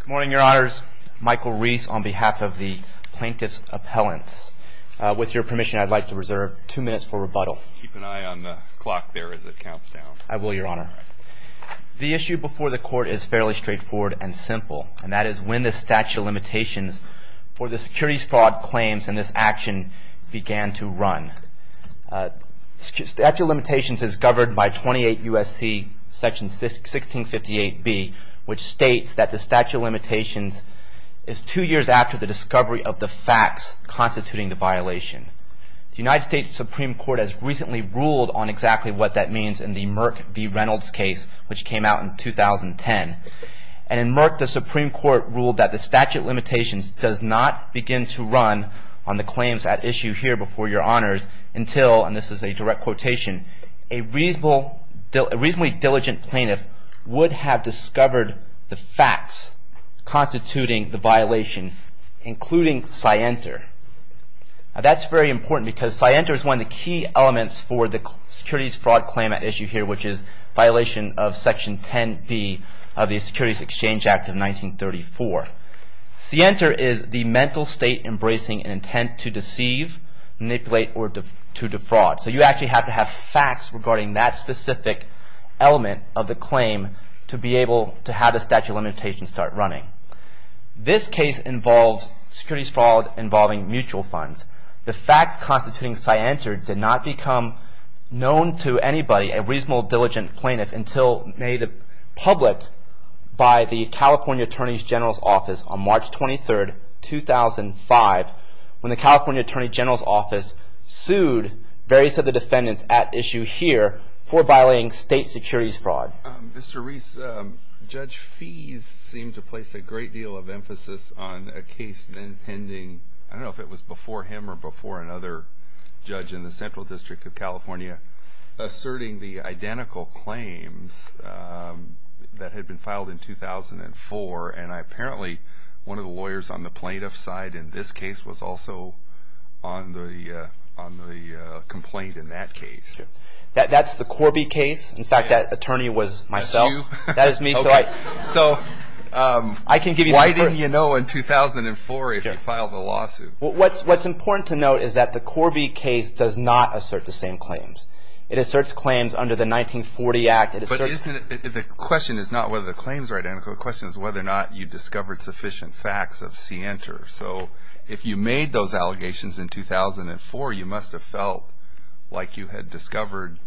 Good morning, Your Honors. Michael Reese on behalf of the Plaintiff's Appellants. With your permission, I'd like to reserve two minutes for rebuttal. Keep an eye on the clock there as it counts down. I will, Your Honor. The issue before the Court is fairly straightforward and simple, and that is when the statute of limitations for the securities fraud claims in this action began to run. Statute of limitations is governed by 28 U.S.C. section 1658B, which states that the statute of limitations is two years after the discovery of the facts constituting the violation. The United States Supreme Court has recently ruled on exactly what that means in the Merck v. Reynolds case, which came out in 2010. And in Merck, the Supreme Court ruled that the statute of limitations does not begin to run on the claims at issue here before Your Honors until, and this is a direct quotation, a reasonably diligent plaintiff would have discovered the facts constituting the violation, including Sienter. That's very important because Sienter is one of the key elements for the securities fraud claim at issue here, which is violation of section 10B of the Securities Exchange Act of 1934. Sienter is the mental state embracing an intent to deceive, manipulate, or to defraud. So you actually have to have facts regarding that specific element of the claim to be able to have the statute of limitations start running. This case involves securities fraud involving mutual funds. The facts constituting Sienter did not become known to anybody, a reasonable diligent plaintiff, until made public by the California Attorney General's Office on March 23, 2005, when the California Attorney General's Office sued various of the defendants at issue here for violating state securities fraud. Mr. Reese, Judge Feese seemed to place a great deal of emphasis on a case pending, I don't know if it was before him or before another judge in the Central District of California, asserting the identical claims that had been filed in 2004, and apparently one of the lawyers on the plaintiff's side in this case was also on the complaint in that case. That's the Corby case. In fact, that attorney was myself. That's you? That is me. So why didn't you know in 2004 if you filed the lawsuit? What's important to note is that the Corby case does not assert the same claims. It asserts claims under the 1940 Act. But the question is not whether the claims are identical. The question is whether or not you discovered sufficient facts of Sienter. So if you made those allegations in 2004, you must have felt like you had discovered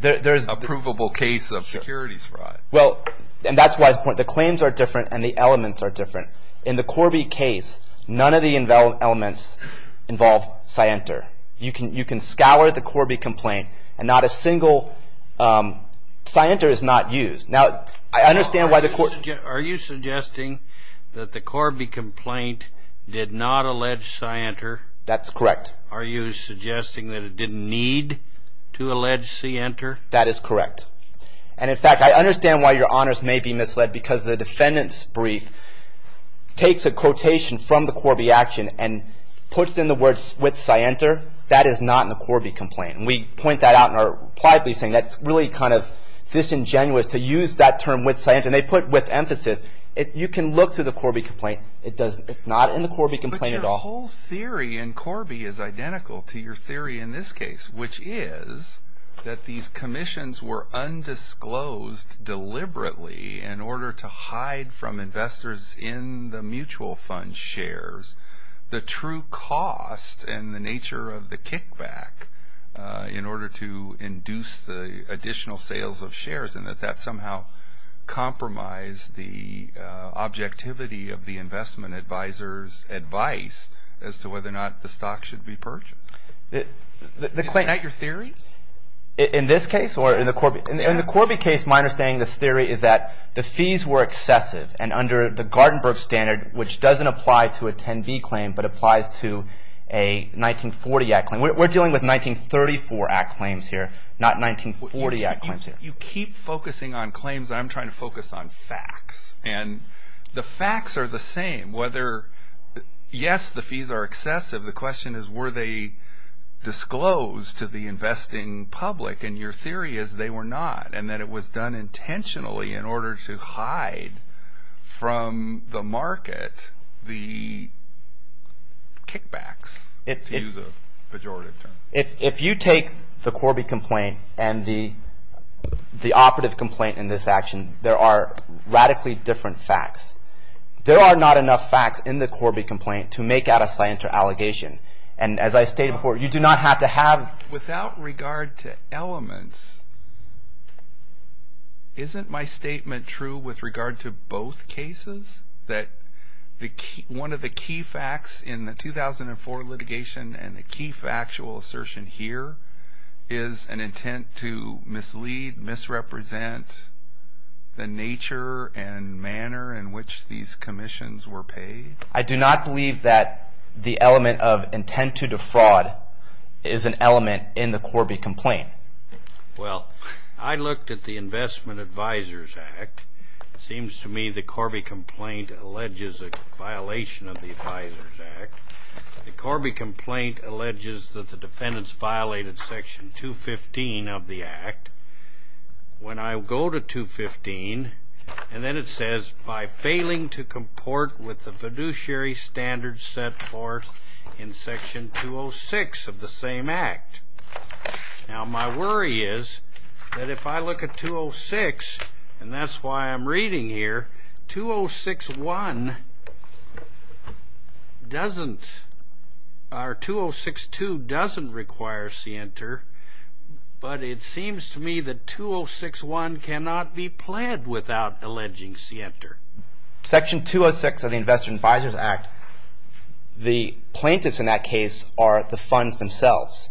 a provable case of securities fraud. Well, and that's why the claims are different and the elements are different. In the Corby case, none of the elements involve Sienter. You can scour the Corby complaint and not a single – Sienter is not used. Now, I understand why the – Are you suggesting that the Corby complaint did not allege Sienter? That's correct. Are you suggesting that it didn't need to allege Sienter? That is correct. And in fact, I understand why your honors may be misled because the defendant's brief takes a quotation from the Corby action and puts in the words with Sienter. That is not in the Corby complaint. And we point that out in our reply piece saying that's really kind of disingenuous to use that term with Sienter. And they put with emphasis. You can look through the Corby complaint. It's not in the Corby complaint at all. But your whole theory in Corby is identical to your theory in this case, which is that these commissions were undisclosed deliberately in order to hide from investors in the mutual fund shares the true cost and the nature of the kickback in order to induce the additional sales of shares and that that somehow compromised the objectivity of the investment advisor's advice as to whether or not the stock should be purchased. Is that your theory? In this case or in the Corby case, my understanding of this theory is that the fees were excessive. And under the Gartenberg standard, which doesn't apply to a 10B claim, but applies to a 1940 Act claim. We're dealing with 1934 Act claims here, not 1940 Act claims here. You keep focusing on claims. I'm trying to focus on facts. And the facts are the same whether, yes, the fees are excessive. The question is were they disclosed to the investing public? And your theory is they were not and that it was done intentionally in order to hide from the market the kickbacks, to use a pejorative term. If you take the Corby complaint and the operative complaint in this action, there are radically different facts. There are not enough facts in the Corby complaint to make out a scienter allegation. And as I stated before, you do not have to have. Without regard to elements, isn't my statement true with regard to both cases? That one of the key facts in the 2004 litigation and the key factual assertion here is an intent to mislead, misrepresent the nature and manner in which these commissions were paid. I do not believe that the element of intent to defraud is an element in the Corby complaint. Well, I looked at the Investment Advisors Act. It seems to me the Corby complaint alleges a violation of the Advisors Act. The Corby complaint alleges that the defendants violated Section 215 of the Act. When I go to 215, and then it says, By failing to comport with the fiduciary standards set forth in Section 206 of the same Act. Now, my worry is that if I look at 206, and that's why I'm reading here. 206.1 doesn't, or 206.2 doesn't require scienter. But it seems to me that 206.1 cannot be pled without alleging scienter. Section 206 of the Investment Advisors Act, the plaintiffs in that case are the funds themselves.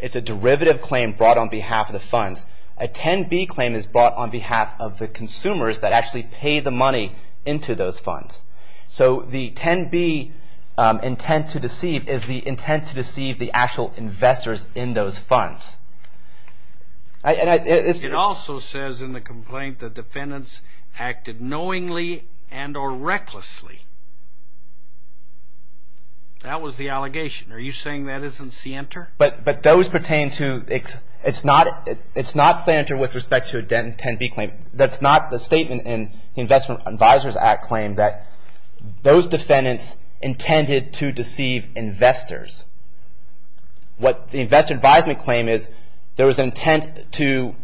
It's a derivative claim brought on behalf of the funds. A 10B claim is brought on behalf of the consumers that actually pay the money into those funds. So the 10B intent to deceive is the intent to deceive the actual investors in those funds. It also says in the complaint that defendants acted knowingly and or recklessly. That was the allegation. Are you saying that isn't scienter? But those pertain to, it's not scienter with respect to a 10B claim. That's not the statement in the Investment Advisors Act claim that those defendants intended to deceive investors. What the investment advisement claim is, there was an intent to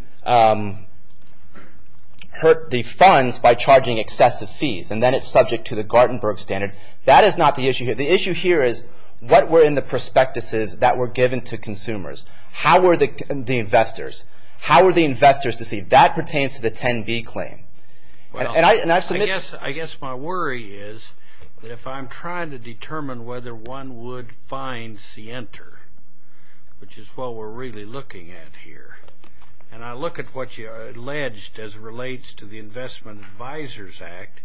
hurt the funds by charging excessive fees. And then it's subject to the Gartenberg standard. That is not the issue here. The issue here is what were in the prospectuses that were given to consumers. How were the investors? How were the investors deceived? That pertains to the 10B claim. I guess my worry is that if I'm trying to determine whether one would find scienter, which is what we're really looking at here, and I look at what you alleged as relates to the Investment Advisors Act,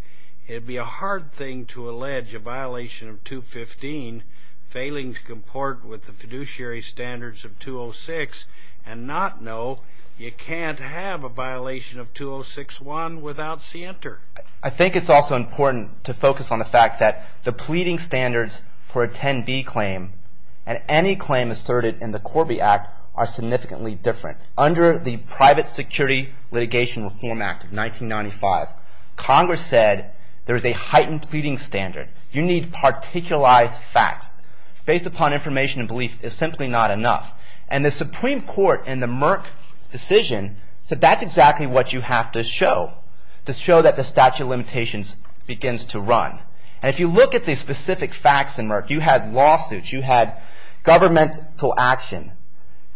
it would be a hard thing to allege a violation of 215 failing to comport with the fiduciary standards of 206 and not know you can't have a violation of 206-1 without scienter. I think it's also important to focus on the fact that the pleading standards for a 10B claim and any claim asserted in the Corby Act are significantly different. Under the Private Security Litigation Reform Act of 1995, Congress said there's a heightened pleading standard. You need particularized facts. Based upon information and belief is simply not enough. The Supreme Court in the Merck decision said that's exactly what you have to show to show that the statute of limitations begins to run. If you look at the specific facts in Merck, you had lawsuits, you had governmental action,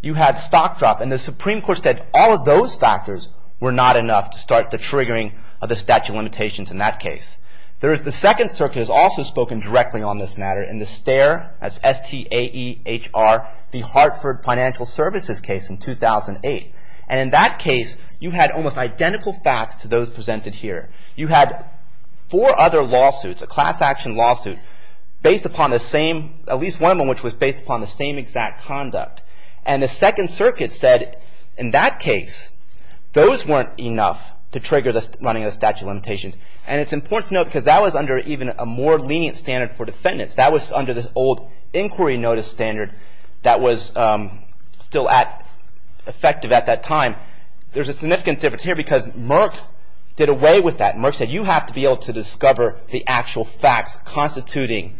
you had stock drop, and the Supreme Court said all of those factors were not enough to start the triggering of the statute of limitations in that case. The Second Circuit has also spoken directly on this matter in the STAEHR, that's S-T-A-E-H-R, the Hartford Financial Services case in 2008. And in that case, you had almost identical facts to those presented here. You had four other lawsuits, a class action lawsuit based upon the same, at least one of them which was based upon the same exact conduct. And the Second Circuit said in that case, those weren't enough to trigger the running of the statute of limitations. And it's important to note because that was under even a more lenient standard for defendants. That was under this old inquiry notice standard that was still effective at that time. There's a significant difference here because Merck did away with that. Merck said you have to be able to discover the actual facts constituting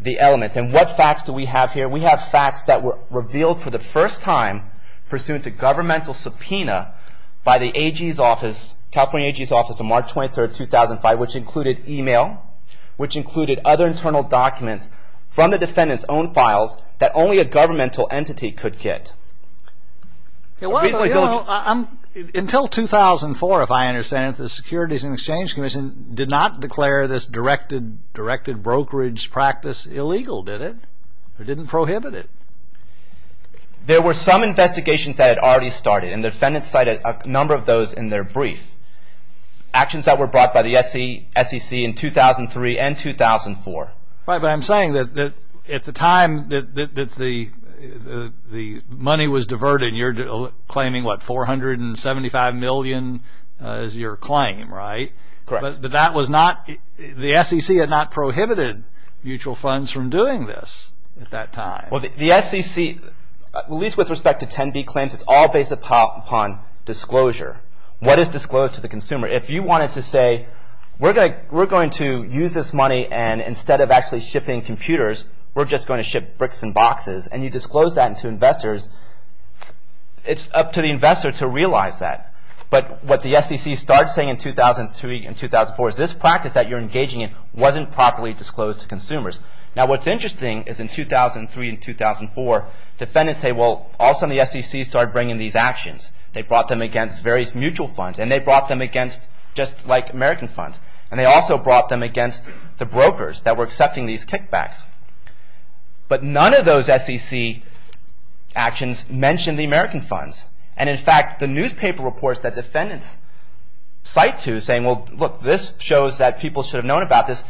the elements. And what facts do we have here? We have facts that were revealed for the first time pursuant to governmental subpoena by the AG's office, California AG's office on March 23rd, 2005, which included e-mail, which included other internal documents from the defendant's own files that only a governmental entity could get. Until 2004, if I understand it, the Securities and Exchange Commission did not declare this directed brokerage practice illegal, did it? It didn't prohibit it. There were some investigations that had already started, and the defendants cited a number of those in their brief. Actions that were brought by the SEC in 2003 and 2004. Right, but I'm saying that at the time that the money was diverted, you're claiming, what, $475 million is your claim, right? Correct. But that was not, the SEC had not prohibited mutual funds from doing this at that time. Well, the SEC, at least with respect to 10B claims, it's all based upon disclosure. What is disclosed to the consumer? If you wanted to say, we're going to use this money, and instead of actually shipping computers, we're just going to ship bricks and boxes, and you disclose that to investors, it's up to the investor to realize that. But what the SEC starts saying in 2003 and 2004 is, this practice that you're engaging in wasn't properly disclosed to consumers. Now, what's interesting is in 2003 and 2004, defendants say, well, all of a sudden the SEC started bringing these actions. They brought them against various mutual funds, and they brought them against just like American funds, and they also brought them against the brokers that were accepting these kickbacks. But none of those SEC actions mentioned the American funds. And in fact, the newspaper reports that defendants cite to saying, well, look, this shows that people should have known about this,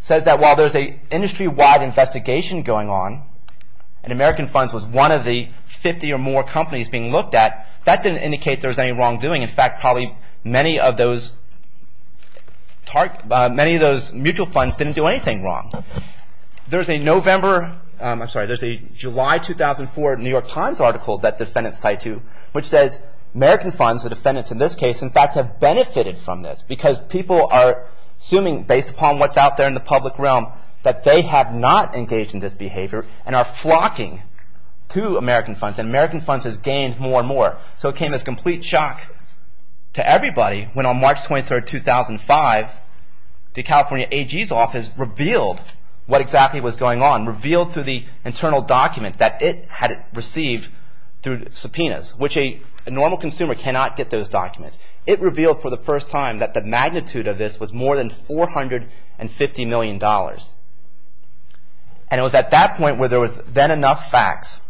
says that while there's an industry-wide investigation going on, and American funds was one of the 50 or more companies being looked at, that didn't indicate there was any wrongdoing. In fact, probably many of those mutual funds didn't do anything wrong. There's a July 2004 New York Times article that defendants cite to, which says American funds, the defendants in this case, in fact have benefited from this because people are assuming based upon what's out there in the public realm that they have not engaged in this behavior and are flocking to American funds, and American funds has gained more and more. So it came as complete shock to everybody when on March 23, 2005, the California AG's office revealed what exactly was going on, revealed through the internal document that it had received through subpoenas, which a normal consumer cannot get those documents. It revealed for the first time that the magnitude of this was more than $450 million. And it was at that point where there was then enough facts,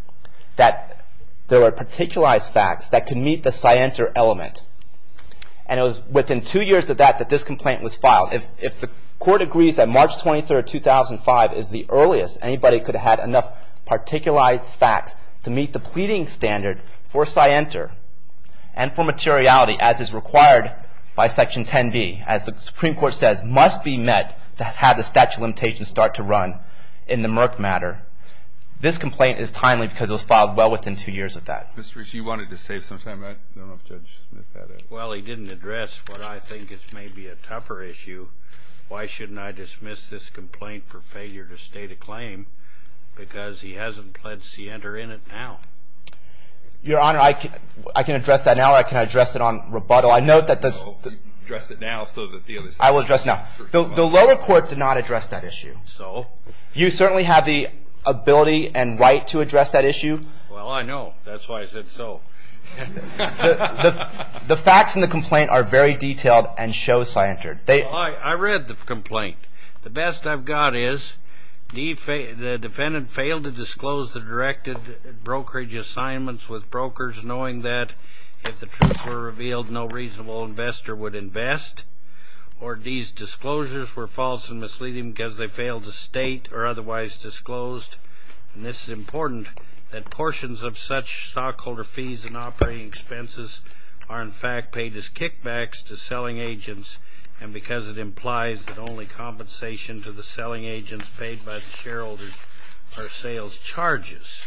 that there were particularized facts that could meet the scienter element. And it was within two years of that that this complaint was filed. If the court agrees that March 23, 2005 is the earliest anybody could have had enough particularized facts to meet the pleading standard for scienter and for materiality as is required by Section 10B, as the Supreme Court says, must be met to have the statute of limitations start to run in the Merck matter, this complaint is timely because it was filed well within two years of that. Mr. Rich, you wanted to say something. I don't know if Judge Smith had it. Well, he didn't address what I think is maybe a tougher issue. Why shouldn't I dismiss this complaint for failure to state a claim? Because he hasn't pled scienter in it now. Your Honor, I can address that now or I can address it on rebuttal. You can address it now. I will address it now. The lower court did not address that issue. So? You certainly have the ability and right to address that issue. Well, I know. That's why I said so. The facts in the complaint are very detailed and show scienter. I read the complaint. The best I've got is the defendant failed to disclose the directed brokerage assignments with brokers, knowing that if the truth were revealed, no reasonable investor would invest, or these disclosures were false and misleading because they failed to state or otherwise disclosed. And this is important, that portions of such stockholder fees and operating expenses are in fact paid as kickbacks to selling agents, and because it implies that only compensation to the selling agents paid by the shareholders are sales charges.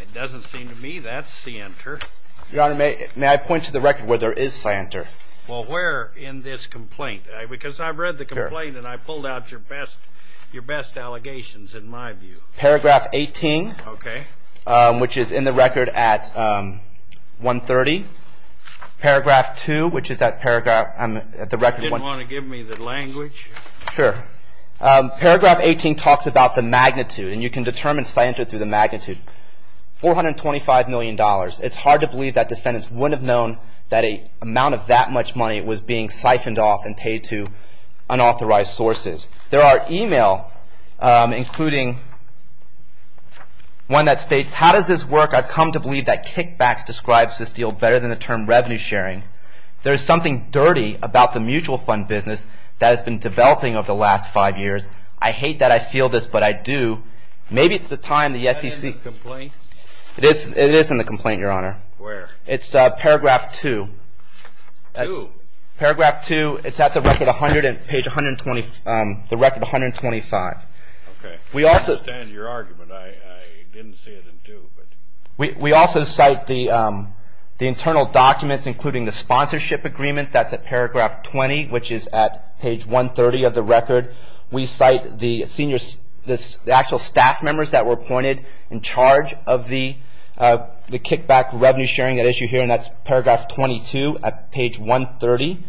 It doesn't seem to me that's scienter. Your Honor, may I point to the record where there is scienter? Well, where in this complaint? Because I've read the complaint and I pulled out your best allegations in my view. Paragraph 18. Okay. Which is in the record at 130. Paragraph 2, which is that paragraph on the record. I didn't want to give me the language. Sure. Paragraph 18 talks about the magnitude, and you can determine scienter through the magnitude. $425 million. It's hard to believe that defendants wouldn't have known that an amount of that much money was being siphoned off and paid to unauthorized sources. There are email, including one that states, How does this work? I've come to believe that kickbacks describes this deal better than the term revenue sharing. There is something dirty about the mutual fund business that has been developing over the last five years. I hate that I feel this, but I do. Maybe it's the time the SEC. Is that in the complaint? It is in the complaint, Your Honor. Where? It's paragraph 2. 2? Paragraph 2. It's at the record 100, page 120, the record 125. Okay. We also. I understand your argument. I didn't see it in 2. We also cite the internal documents, including the sponsorship agreements. That's at paragraph 20, which is at page 130 of the record. We cite the actual staff members that were appointed in charge of the kickback revenue sharing, that issue here, and that's paragraph 22 at page 130.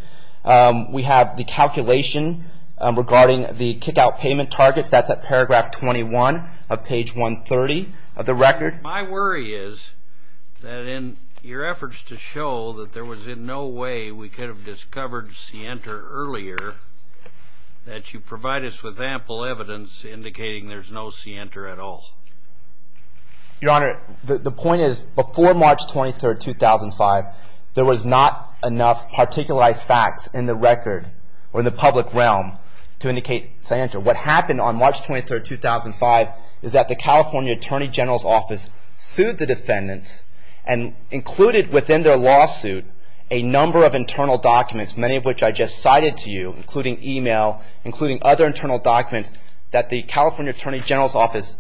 We have the calculation regarding the kickout payment targets. That's at paragraph 21 of page 130 of the record. My worry is that in your efforts to show that there was in no way we could have discovered Sienta earlier, that you provide us with ample evidence indicating there's no Sienta at all. Your Honor, the point is before March 23, 2005, there was not enough particularized facts in the record or in the public realm to indicate Sienta. What happened on March 23, 2005, is that the California Attorney General's Office sued the defendants and included within their lawsuit a number of internal documents, many of which I just cited to you, including email, including other internal documents, that the California Attorney General's Office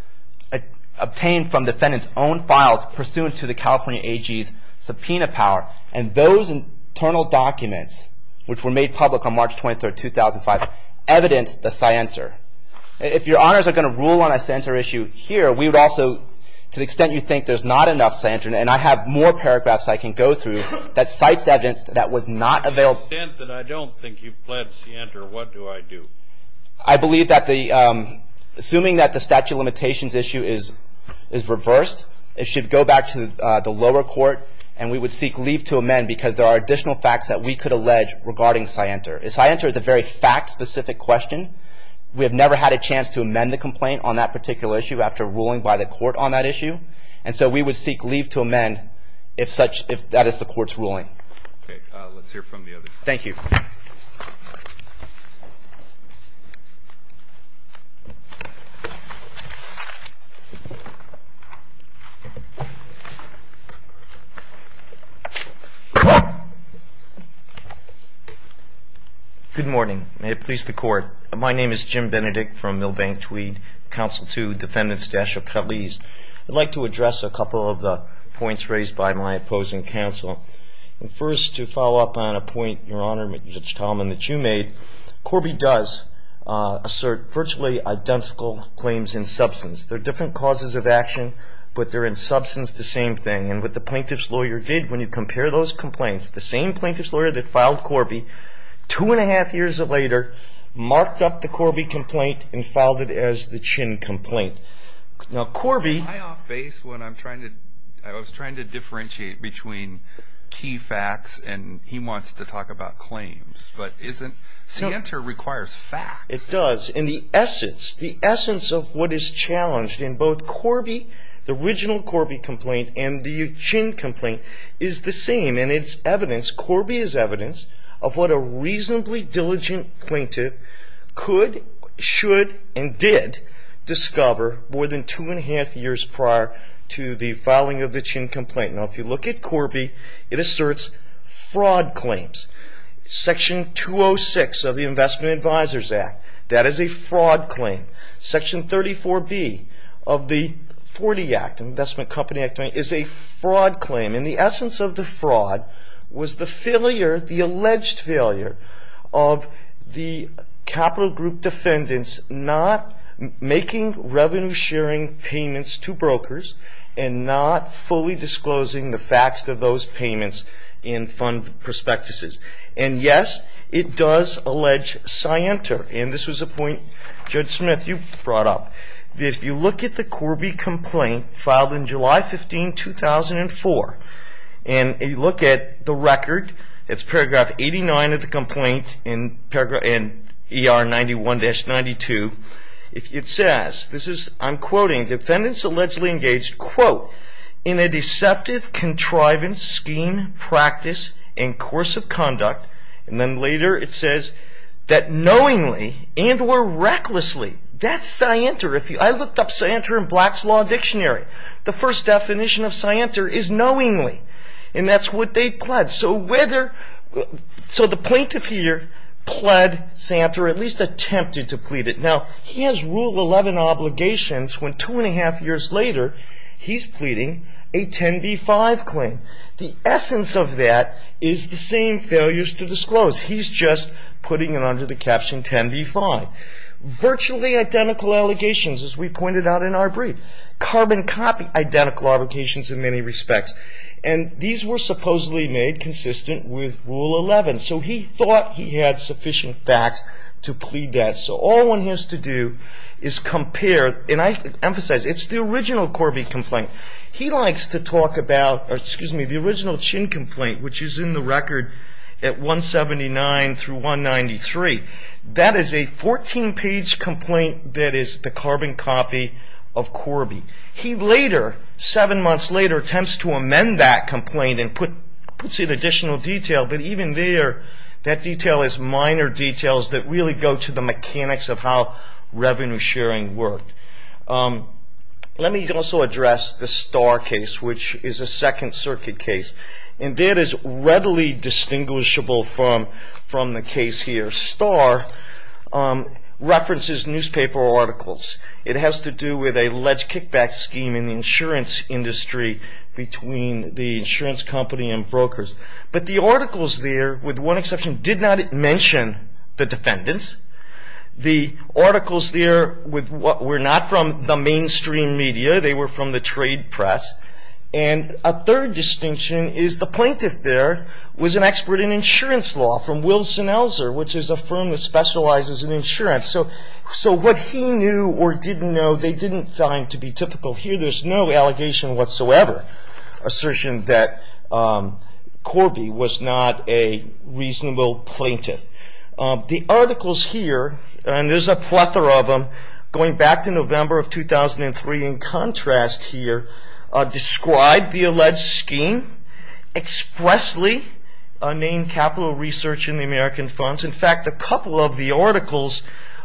obtained from defendants' own files pursuant to the California AG's subpoena power. And those internal documents, which were made public on March 23, 2005, evidence the Sienta. If Your Honors are going to rule on a Sienta issue here, we would also, to the extent you think there's not enough Sienta, and I have more paragraphs I can go through, that cites evidence that was not available. To the extent that I don't think you've pled Sienta, what do I do? I believe that the, assuming that the statute of limitations issue is reversed, it should go back to the lower court and we would seek leave to amend because there are additional facts that we could allege regarding Sienta. Sienta is a very fact-specific question. We have never had a chance to amend the complaint on that particular issue after ruling by the court on that issue. And so we would seek leave to amend if such, if that is the court's ruling. Okay. Let's hear from the others. Thank you. Good morning. May it please the Court. My name is Jim Benedict from Milbank-Tweed, Council 2, Defendants' Dachau-Pralese. I'd like to address a couple of the points raised by my opposing counsel. First, to follow up on a point, Your Honor, Judge Talman, that you made, Corby does assert virtually identical claims in substance. They're different causes of action, but they're in substance the same thing. And what the plaintiff's lawyer did when you compare those complaints, the same plaintiff's lawyer that filed Corby two and a half years later marked up the Corby complaint and filed it as the Chin complaint. Am I off base when I was trying to differentiate between key facts and he wants to talk about claims? But the answer requires facts. It does. And the essence of what is challenged in both Corby, the original Corby complaint and the Chin complaint, is the same. And it's evidence, Corby is evidence, of what a reasonably diligent plaintiff could, should, and did discover more than two and a half years prior to the filing of the Chin complaint. Now, if you look at Corby, it asserts fraud claims. Section 206 of the Investment Advisors Act, that is a fraud claim. Section 34B of the 40 Act, Investment Company Act, is a fraud claim. And the essence of the fraud was the failure, the alleged failure, of the capital group defendants not making revenue-sharing payments to brokers and not fully disclosing the facts of those payments in fund prospectuses. And yes, it does allege scienter. And this was a point, Judge Smith, you brought up. If you look at the Corby complaint filed in July 15, 2004, and you look at the record, it's paragraph 89 of the complaint, in ER 91-92, it says, I'm quoting, defendants allegedly engaged, quote, in a deceptive, contrivance scheme, practice, and course of conduct, and then later it says, that knowingly and or recklessly. That's scienter. I looked up scienter in Black's Law Dictionary. The first definition of scienter is knowingly. And that's what they pledged. So whether, so the plaintiff here pled scienter, or at least attempted to plead it. Now, he has Rule 11 obligations when two and a half years later, he's pleading a 10b-5 claim. The essence of that is the same failures to disclose. He's just putting it under the caption 10b-5. Virtually identical allegations, as we pointed out in our brief. Carbon copy identical allegations in many respects. And these were supposedly made consistent with Rule 11. So he thought he had sufficient facts to plead that. So all one has to do is compare, and I emphasize, it's the original Corby complaint. He likes to talk about, excuse me, the original Chin complaint, which is in the record at 179-193. That is a 14-page complaint that is the carbon copy of Corby. He later, seven months later, attempts to amend that complaint and puts in additional detail. But even there, that detail is minor details that really go to the mechanics of how revenue sharing worked. Let me also address the Starr case, which is a Second Circuit case. And that is readily distinguishable from the case here. Starr references newspaper articles. It has to do with alleged kickback scheme in the insurance industry between the insurance company and brokers. But the articles there, with one exception, did not mention the defendants. The articles there were not from the mainstream media. They were from the trade press. And a third distinction is the plaintiff there was an expert in insurance law from Wilson Elser, which is a firm that specializes in insurance. So what he knew or didn't know, they didn't find to be typical here. There's no allegation whatsoever, assertion that Corby was not a reasonable plaintiff. The articles here, and there's a plethora of them, going back to November of 2003, in contrast here, describe the alleged scheme expressly, named Capital Research in the American Funds. In fact, a couple of the articles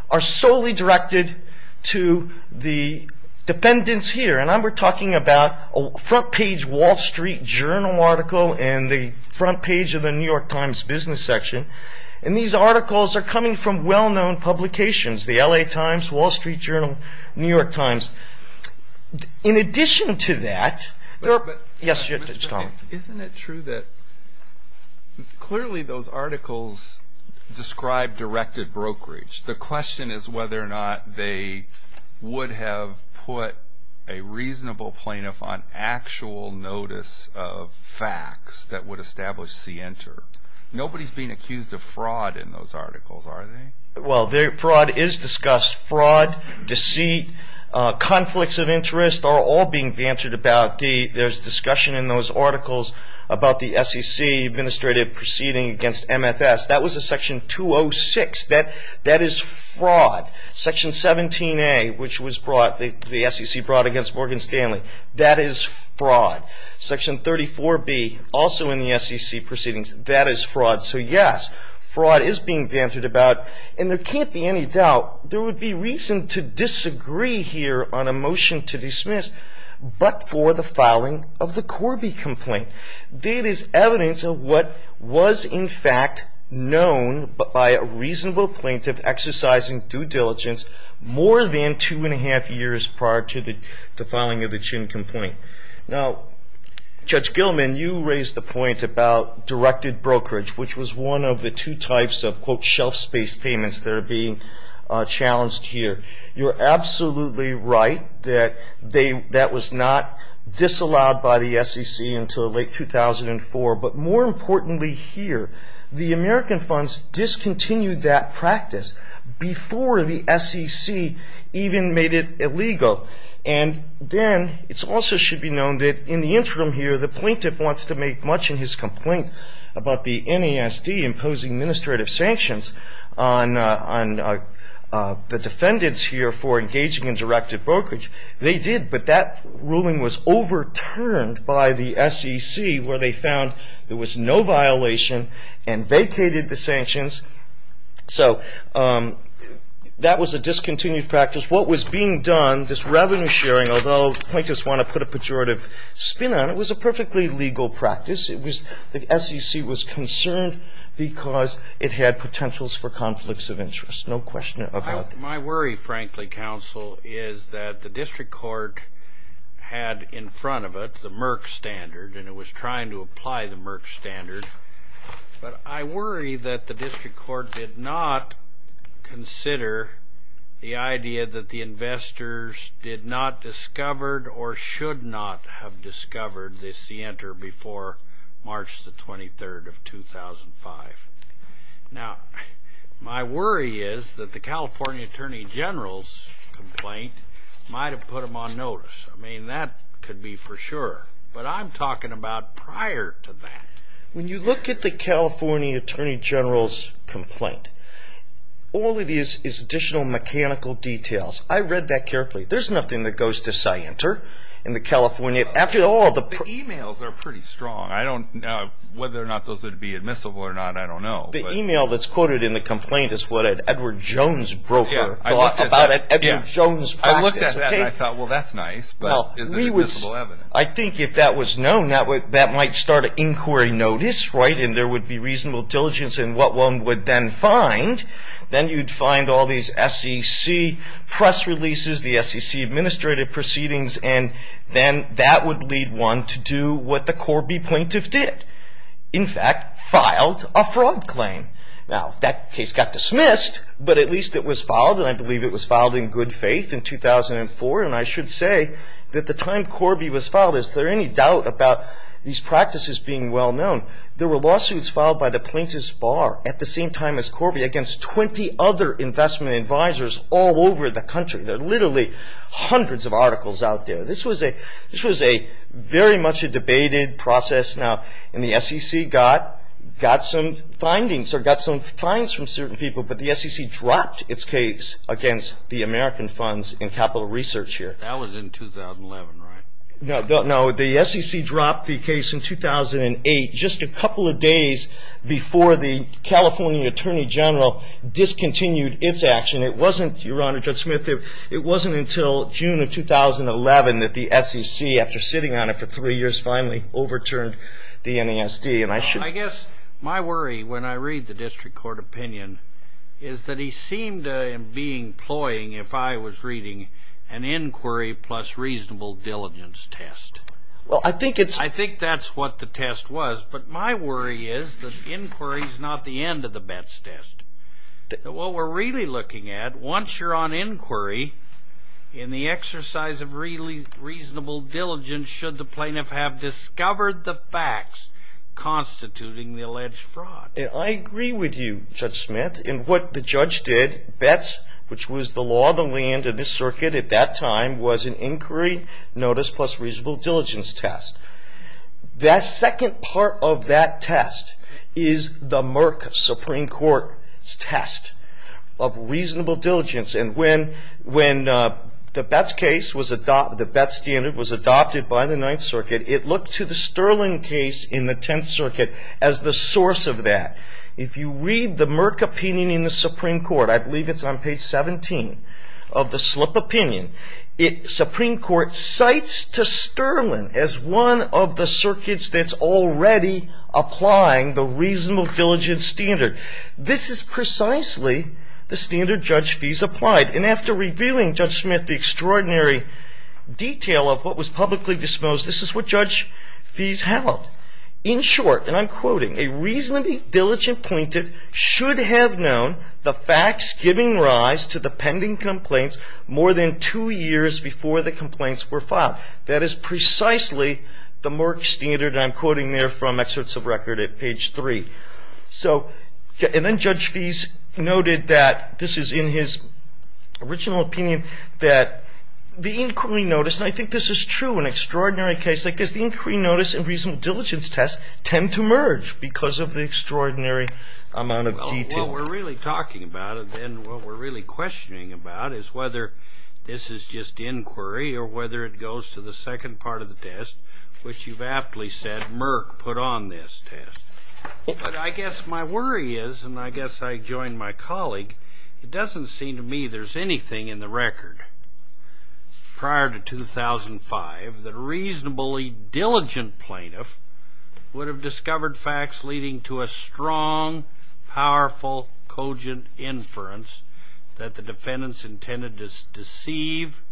are solely directed to the defendants here. And we're talking about a front page Wall Street Journal article and the front page of the New York Times business section. And these articles are coming from well-known publications, the LA Times, Wall Street Journal, New York Times. In addition to that, there are... Yes, Tom. Isn't it true that clearly those articles describe directed brokerage? The question is whether or not they would have put a reasonable plaintiff on actual notice of facts that would establish C enter. Nobody's being accused of fraud in those articles, are they? Well, fraud is discussed. Fraud, deceit, conflicts of interest are all being bantered about. There's discussion in those articles about the SEC administrative proceeding against MFS. That was a section 206. That is fraud. Section 17A, which the SEC brought against Morgan Stanley, that is fraud. Section 34B, also in the SEC proceedings, that is fraud. So, yes, fraud is being bantered about. And there can't be any doubt there would be reason to disagree here on a motion to dismiss but for the filing of the Corby complaint. That is evidence of what was in fact known by a reasonable plaintiff exercising due diligence more than two and a half years prior to the filing of the Chin complaint. Now, Judge Gilman, you raised the point about directed brokerage, which was one of the two types of, quote, shelf space payments that are being challenged here. You're absolutely right that that was not disallowed by the SEC until late 2004. But more importantly here, the American funds discontinued that practice before the SEC even made it illegal. And then it also should be known that in the interim here, the plaintiff wants to make much in his complaint about the NASD imposing administrative sanctions on the defendants here for engaging in directed brokerage. They did, but that ruling was overturned by the SEC where they found there was no violation and vacated the sanctions. So that was a discontinued practice. What was being done, this revenue sharing, although plaintiffs want to put a pejorative spin on it, was a perfectly legal practice. The SEC was concerned because it had potentials for conflicts of interest, no question about that. My worry, frankly, counsel, is that the district court had in front of it the Merck standard and it was trying to apply the Merck standard. But I worry that the district court did not consider the idea that the investors did not discover or should not have discovered this the enter before March the 23rd of 2005. Now, my worry is that the California Attorney General's complaint might have put them on notice. I mean, that could be for sure. But I'm talking about prior to that. When you look at the California Attorney General's complaint, all it is is additional mechanical details. I read that carefully. There's nothing that goes to say enter in the California. After all, the emails are pretty strong. I don't know whether or not those would be admissible or not. I don't know. The email that's quoted in the complaint is what an Edward Jones broker thought about an Edward Jones practice. I looked at that and I thought, well, that's nice, but is it admissible evidence? I think if that was known, that might start an inquiry notice, right, and there would be reasonable diligence in what one would then find. Then you'd find all these SEC press releases, the SEC administrative proceedings, and then that would lead one to do what the Corby plaintiff did, in fact, filed a fraud claim. Now, that case got dismissed, but at least it was filed, and I believe it was filed in good faith in 2004. And I should say that the time Corby was filed, is there any doubt about these practices being well-known? There were lawsuits filed by the plaintiff's bar at the same time as Corby against 20 other investment advisors all over the country. There are literally hundreds of articles out there. This was very much a debated process. Now, the SEC got some findings or got some finds from certain people, but the SEC dropped its case against the American Funds and Capital Research here. That was in 2011, right? No, the SEC dropped the case in 2008, just a couple of days before the California Attorney General discontinued its action. It wasn't, Your Honor, Judge Smith, it wasn't until June of 2011 that the SEC, after sitting on it for three years, finally overturned the NASD. I guess my worry when I read the district court opinion is that he seemed to be employing, if I was reading, an inquiry plus reasonable diligence test. I think that's what the test was, but my worry is that inquiry is not the end of the Betz test. What we're really looking at, once you're on inquiry, in the exercise of reasonable diligence, should the plaintiff have discovered the facts constituting the alleged fraud. I agree with you, Judge Smith. In what the judge did, Betz, which was the law of the land in this circuit at that time, was an inquiry notice plus reasonable diligence test. That second part of that test is the Merck Supreme Court's test of reasonable diligence. When the Betz standard was adopted by the Ninth Circuit, it looked to the Sterling case in the Tenth Circuit as the source of that. If you read the Merck opinion in the Supreme Court, I believe it's on page 17 of the slip opinion, the Supreme Court cites to Sterling as one of the circuits that's already applying the reasonable diligence standard. This is precisely the standard Judge Fees applied, and after revealing, Judge Smith, the extraordinary detail of what was publicly disposed, this is what Judge Fees held. In short, and I'm quoting, a reasonably diligent plaintiff should have known the facts giving rise to the pending complaints more than two years before the complaints were filed. That is precisely the Merck standard, and I'm quoting there from excerpts of record at page 3. So and then Judge Fees noted that this is in his original opinion that the inquiry notice, and I think this is true in extraordinary cases like this, the inquiry notice and reasonable diligence test tend to merge because of the extraordinary amount of detail. Well, what we're really talking about and what we're really questioning about is whether this is just inquiry or whether it goes to the second part of the test, which you've aptly said Merck put on this test. But I guess my worry is, and I guess I join my colleague, it doesn't seem to me there's anything in the record prior to 2005 that a reasonably diligent plaintiff would have discovered facts leading to a strong, powerful, cogent inference that the defendants intended to deceive,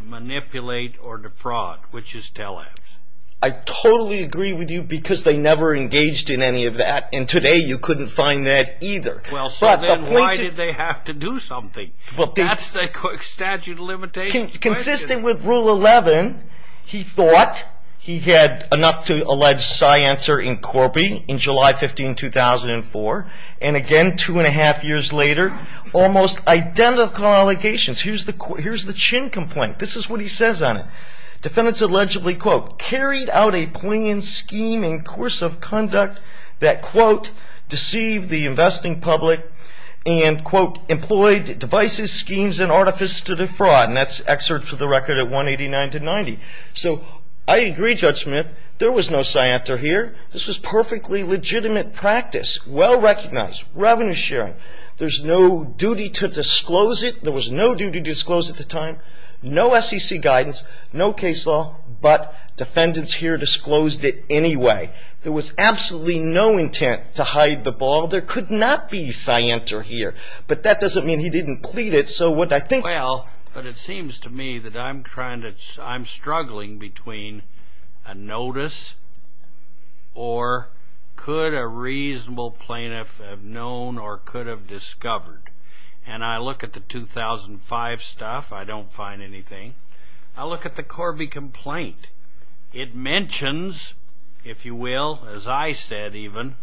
manipulate, or defraud, which is tell-evs. I totally agree with you because they never engaged in any of that. And today you couldn't find that either. Well, so then why did they have to do something? That's the statute of limitations question. Consisting with Rule 11, he thought he had enough to allege sciencer in Corby in July 15, 2004. And again, two and a half years later, almost identical allegations. Here's the Chin complaint. This is what he says on it. Defendants allegedly, quote, carried out a plan, scheme, and course of conduct that, quote, deceived the investing public and, quote, employed devices, schemes, and artifice to defraud. And that's excerpt for the record at 189 to 90. So I agree, Judge Smith. There was no scienter here. This was perfectly legitimate practice, well-recognized, revenue-sharing. There's no duty to disclose it. There was no duty to disclose at the time. No SEC guidance, no case law, but defendants here disclosed it anyway. There was absolutely no intent to hide the ball. There could not be scienter here. But that doesn't mean he didn't plead it. Well, but it seems to me that I'm struggling between a notice or could a reasonable plaintiff have known or could have discovered. And I look at the 2005 stuff. I don't find anything. I look at the Corby complaint. It mentions, if you will, as I said even,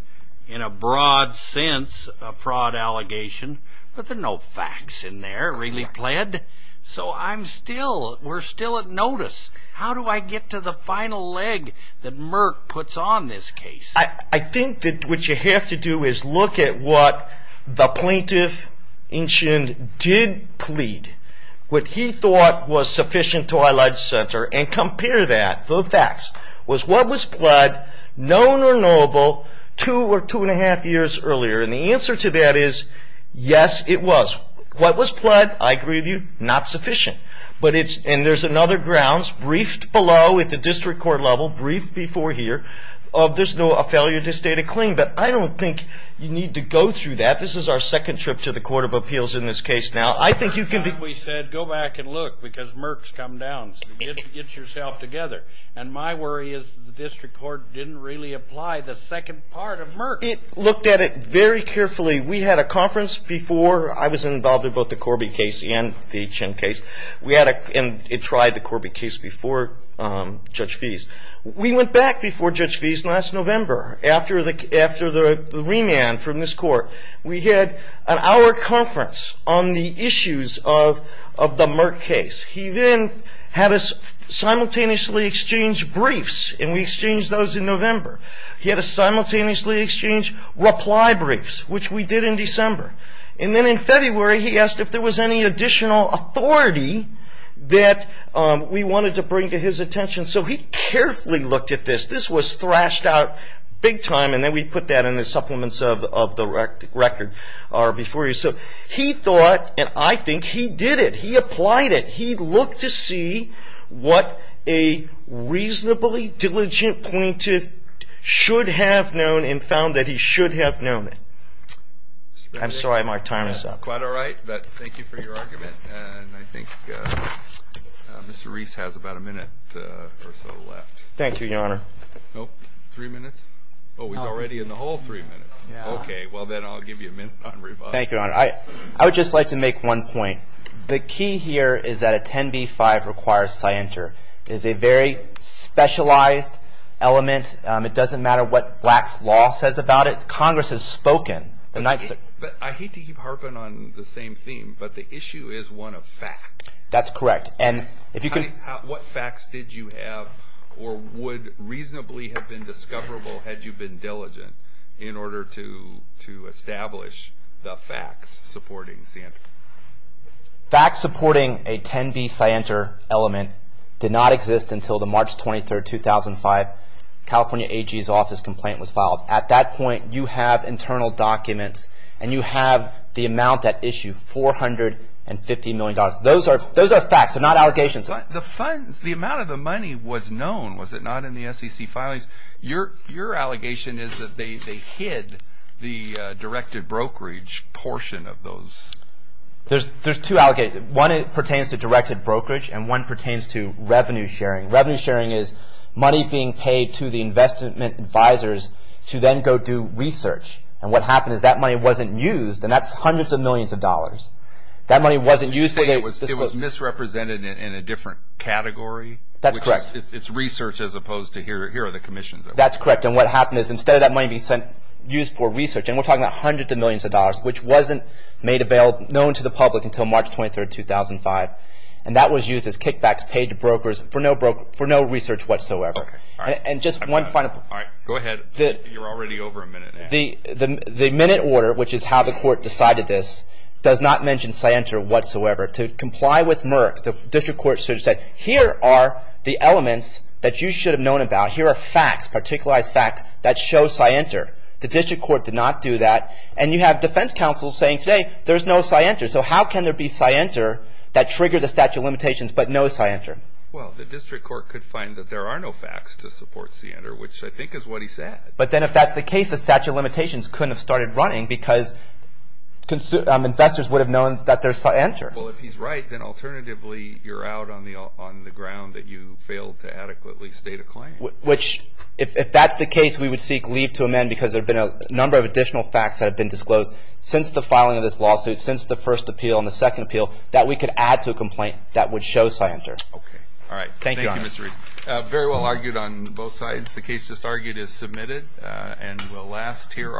in a broad sense, a fraud allegation. But there are no facts in there, really pled. So I'm still, we're still at notice. How do I get to the final leg that Merck puts on this case? I think that what you have to do is look at what the plaintiff did plead, what he thought was sufficient to highlight the center, and compare that to the facts. Was what was pled known or knowable two or two and a half years earlier? And the answer to that is yes, it was. What was pled, I agree with you, not sufficient. And there's another grounds briefed below at the district court level, briefed before here, of there's no failure to state a claim. But I don't think you need to go through that. This is our second trip to the Court of Appeals in this case now. We said go back and look because Merck's come down. Get yourself together. And my worry is the district court didn't really apply the second part of Merck. It looked at it very carefully. We had a conference before I was involved in both the Corby case and the Chin case. And it tried the Corby case before Judge Feese. We went back before Judge Feese last November after the remand from this court. We had an hour conference on the issues of the Merck case. He then had us simultaneously exchange briefs, and we exchanged those in November. He had us simultaneously exchange reply briefs, which we did in December. And then in February, he asked if there was any additional authority that we wanted to bring to his attention. So he carefully looked at this. This was thrashed out big time, and then we put that in the supplements of the record before you. So he thought, and I think he did it. He applied it. He looked to see what a reasonably diligent plaintiff should have known and found that he should have known it. I'm sorry. My time is up. It's quite all right, but thank you for your argument. And I think Mr. Reese has about a minute or so left. Thank you, Your Honor. Nope? Three minutes? Oh, he's already in the hole three minutes. Okay. Well, then I'll give you a minute on rebuttal. Thank you, Your Honor. I would just like to make one point. The key here is that a 10b-5 requires scienter. It is a very specialized element. It doesn't matter what Black's law says about it. Congress has spoken. I hate to keep harping on the same theme, but the issue is one of facts. That's correct. What facts did you have or would reasonably have been discoverable had you been diligent in order to establish the facts supporting scienter? Facts supporting a 10b scienter element did not exist until the March 23, 2005, California AG's office complaint was filed. At that point, you have internal documents, and you have the amount at issue, $450 million. Those are facts. They're not allegations. The amount of the money was known, was it not, in the SEC filings? Your allegation is that they hid the directed brokerage portion of those. There's two allegations. One pertains to directed brokerage, and one pertains to revenue sharing. Revenue sharing is money being paid to the investment advisors to then go do research, and what happened is that money wasn't used, and that's hundreds of millions of dollars. That money wasn't used for this purpose. You're saying it was misrepresented in a different category? That's correct. It's research as opposed to here are the commissions. That's correct, and what happened is instead of that money being used for research, and we're talking about hundreds of millions of dollars, which wasn't made known to the public until March 23, 2005, and that was used as kickbacks paid to brokers for no research whatsoever. Go ahead. You're already over a minute now. The minute order, which is how the court decided this, does not mention scienter whatsoever. To comply with Merck, the district court said, here are the elements that you should have known about. Here are facts, particular facts that show scienter. The district court did not do that, and you have defense counsel saying, hey, there's no scienter. So how can there be scienter that triggered the statute of limitations but no scienter? Well, the district court could find that there are no facts to support scienter, which I think is what he said. But then if that's the case, the statute of limitations couldn't have started running because investors would have known that there's scienter. Well, if he's right, then alternatively, you're out on the ground that you failed to adequately state a claim. Which if that's the case, we would seek leave to amend because there have been a number of additional facts that have been disclosed since the filing of this lawsuit, since the first appeal and the second appeal, that we could add to a complaint that would show scienter. Okay. All right. Thank you, Mr. Reese. Very well argued on both sides. The case just argued is submitted and will last here.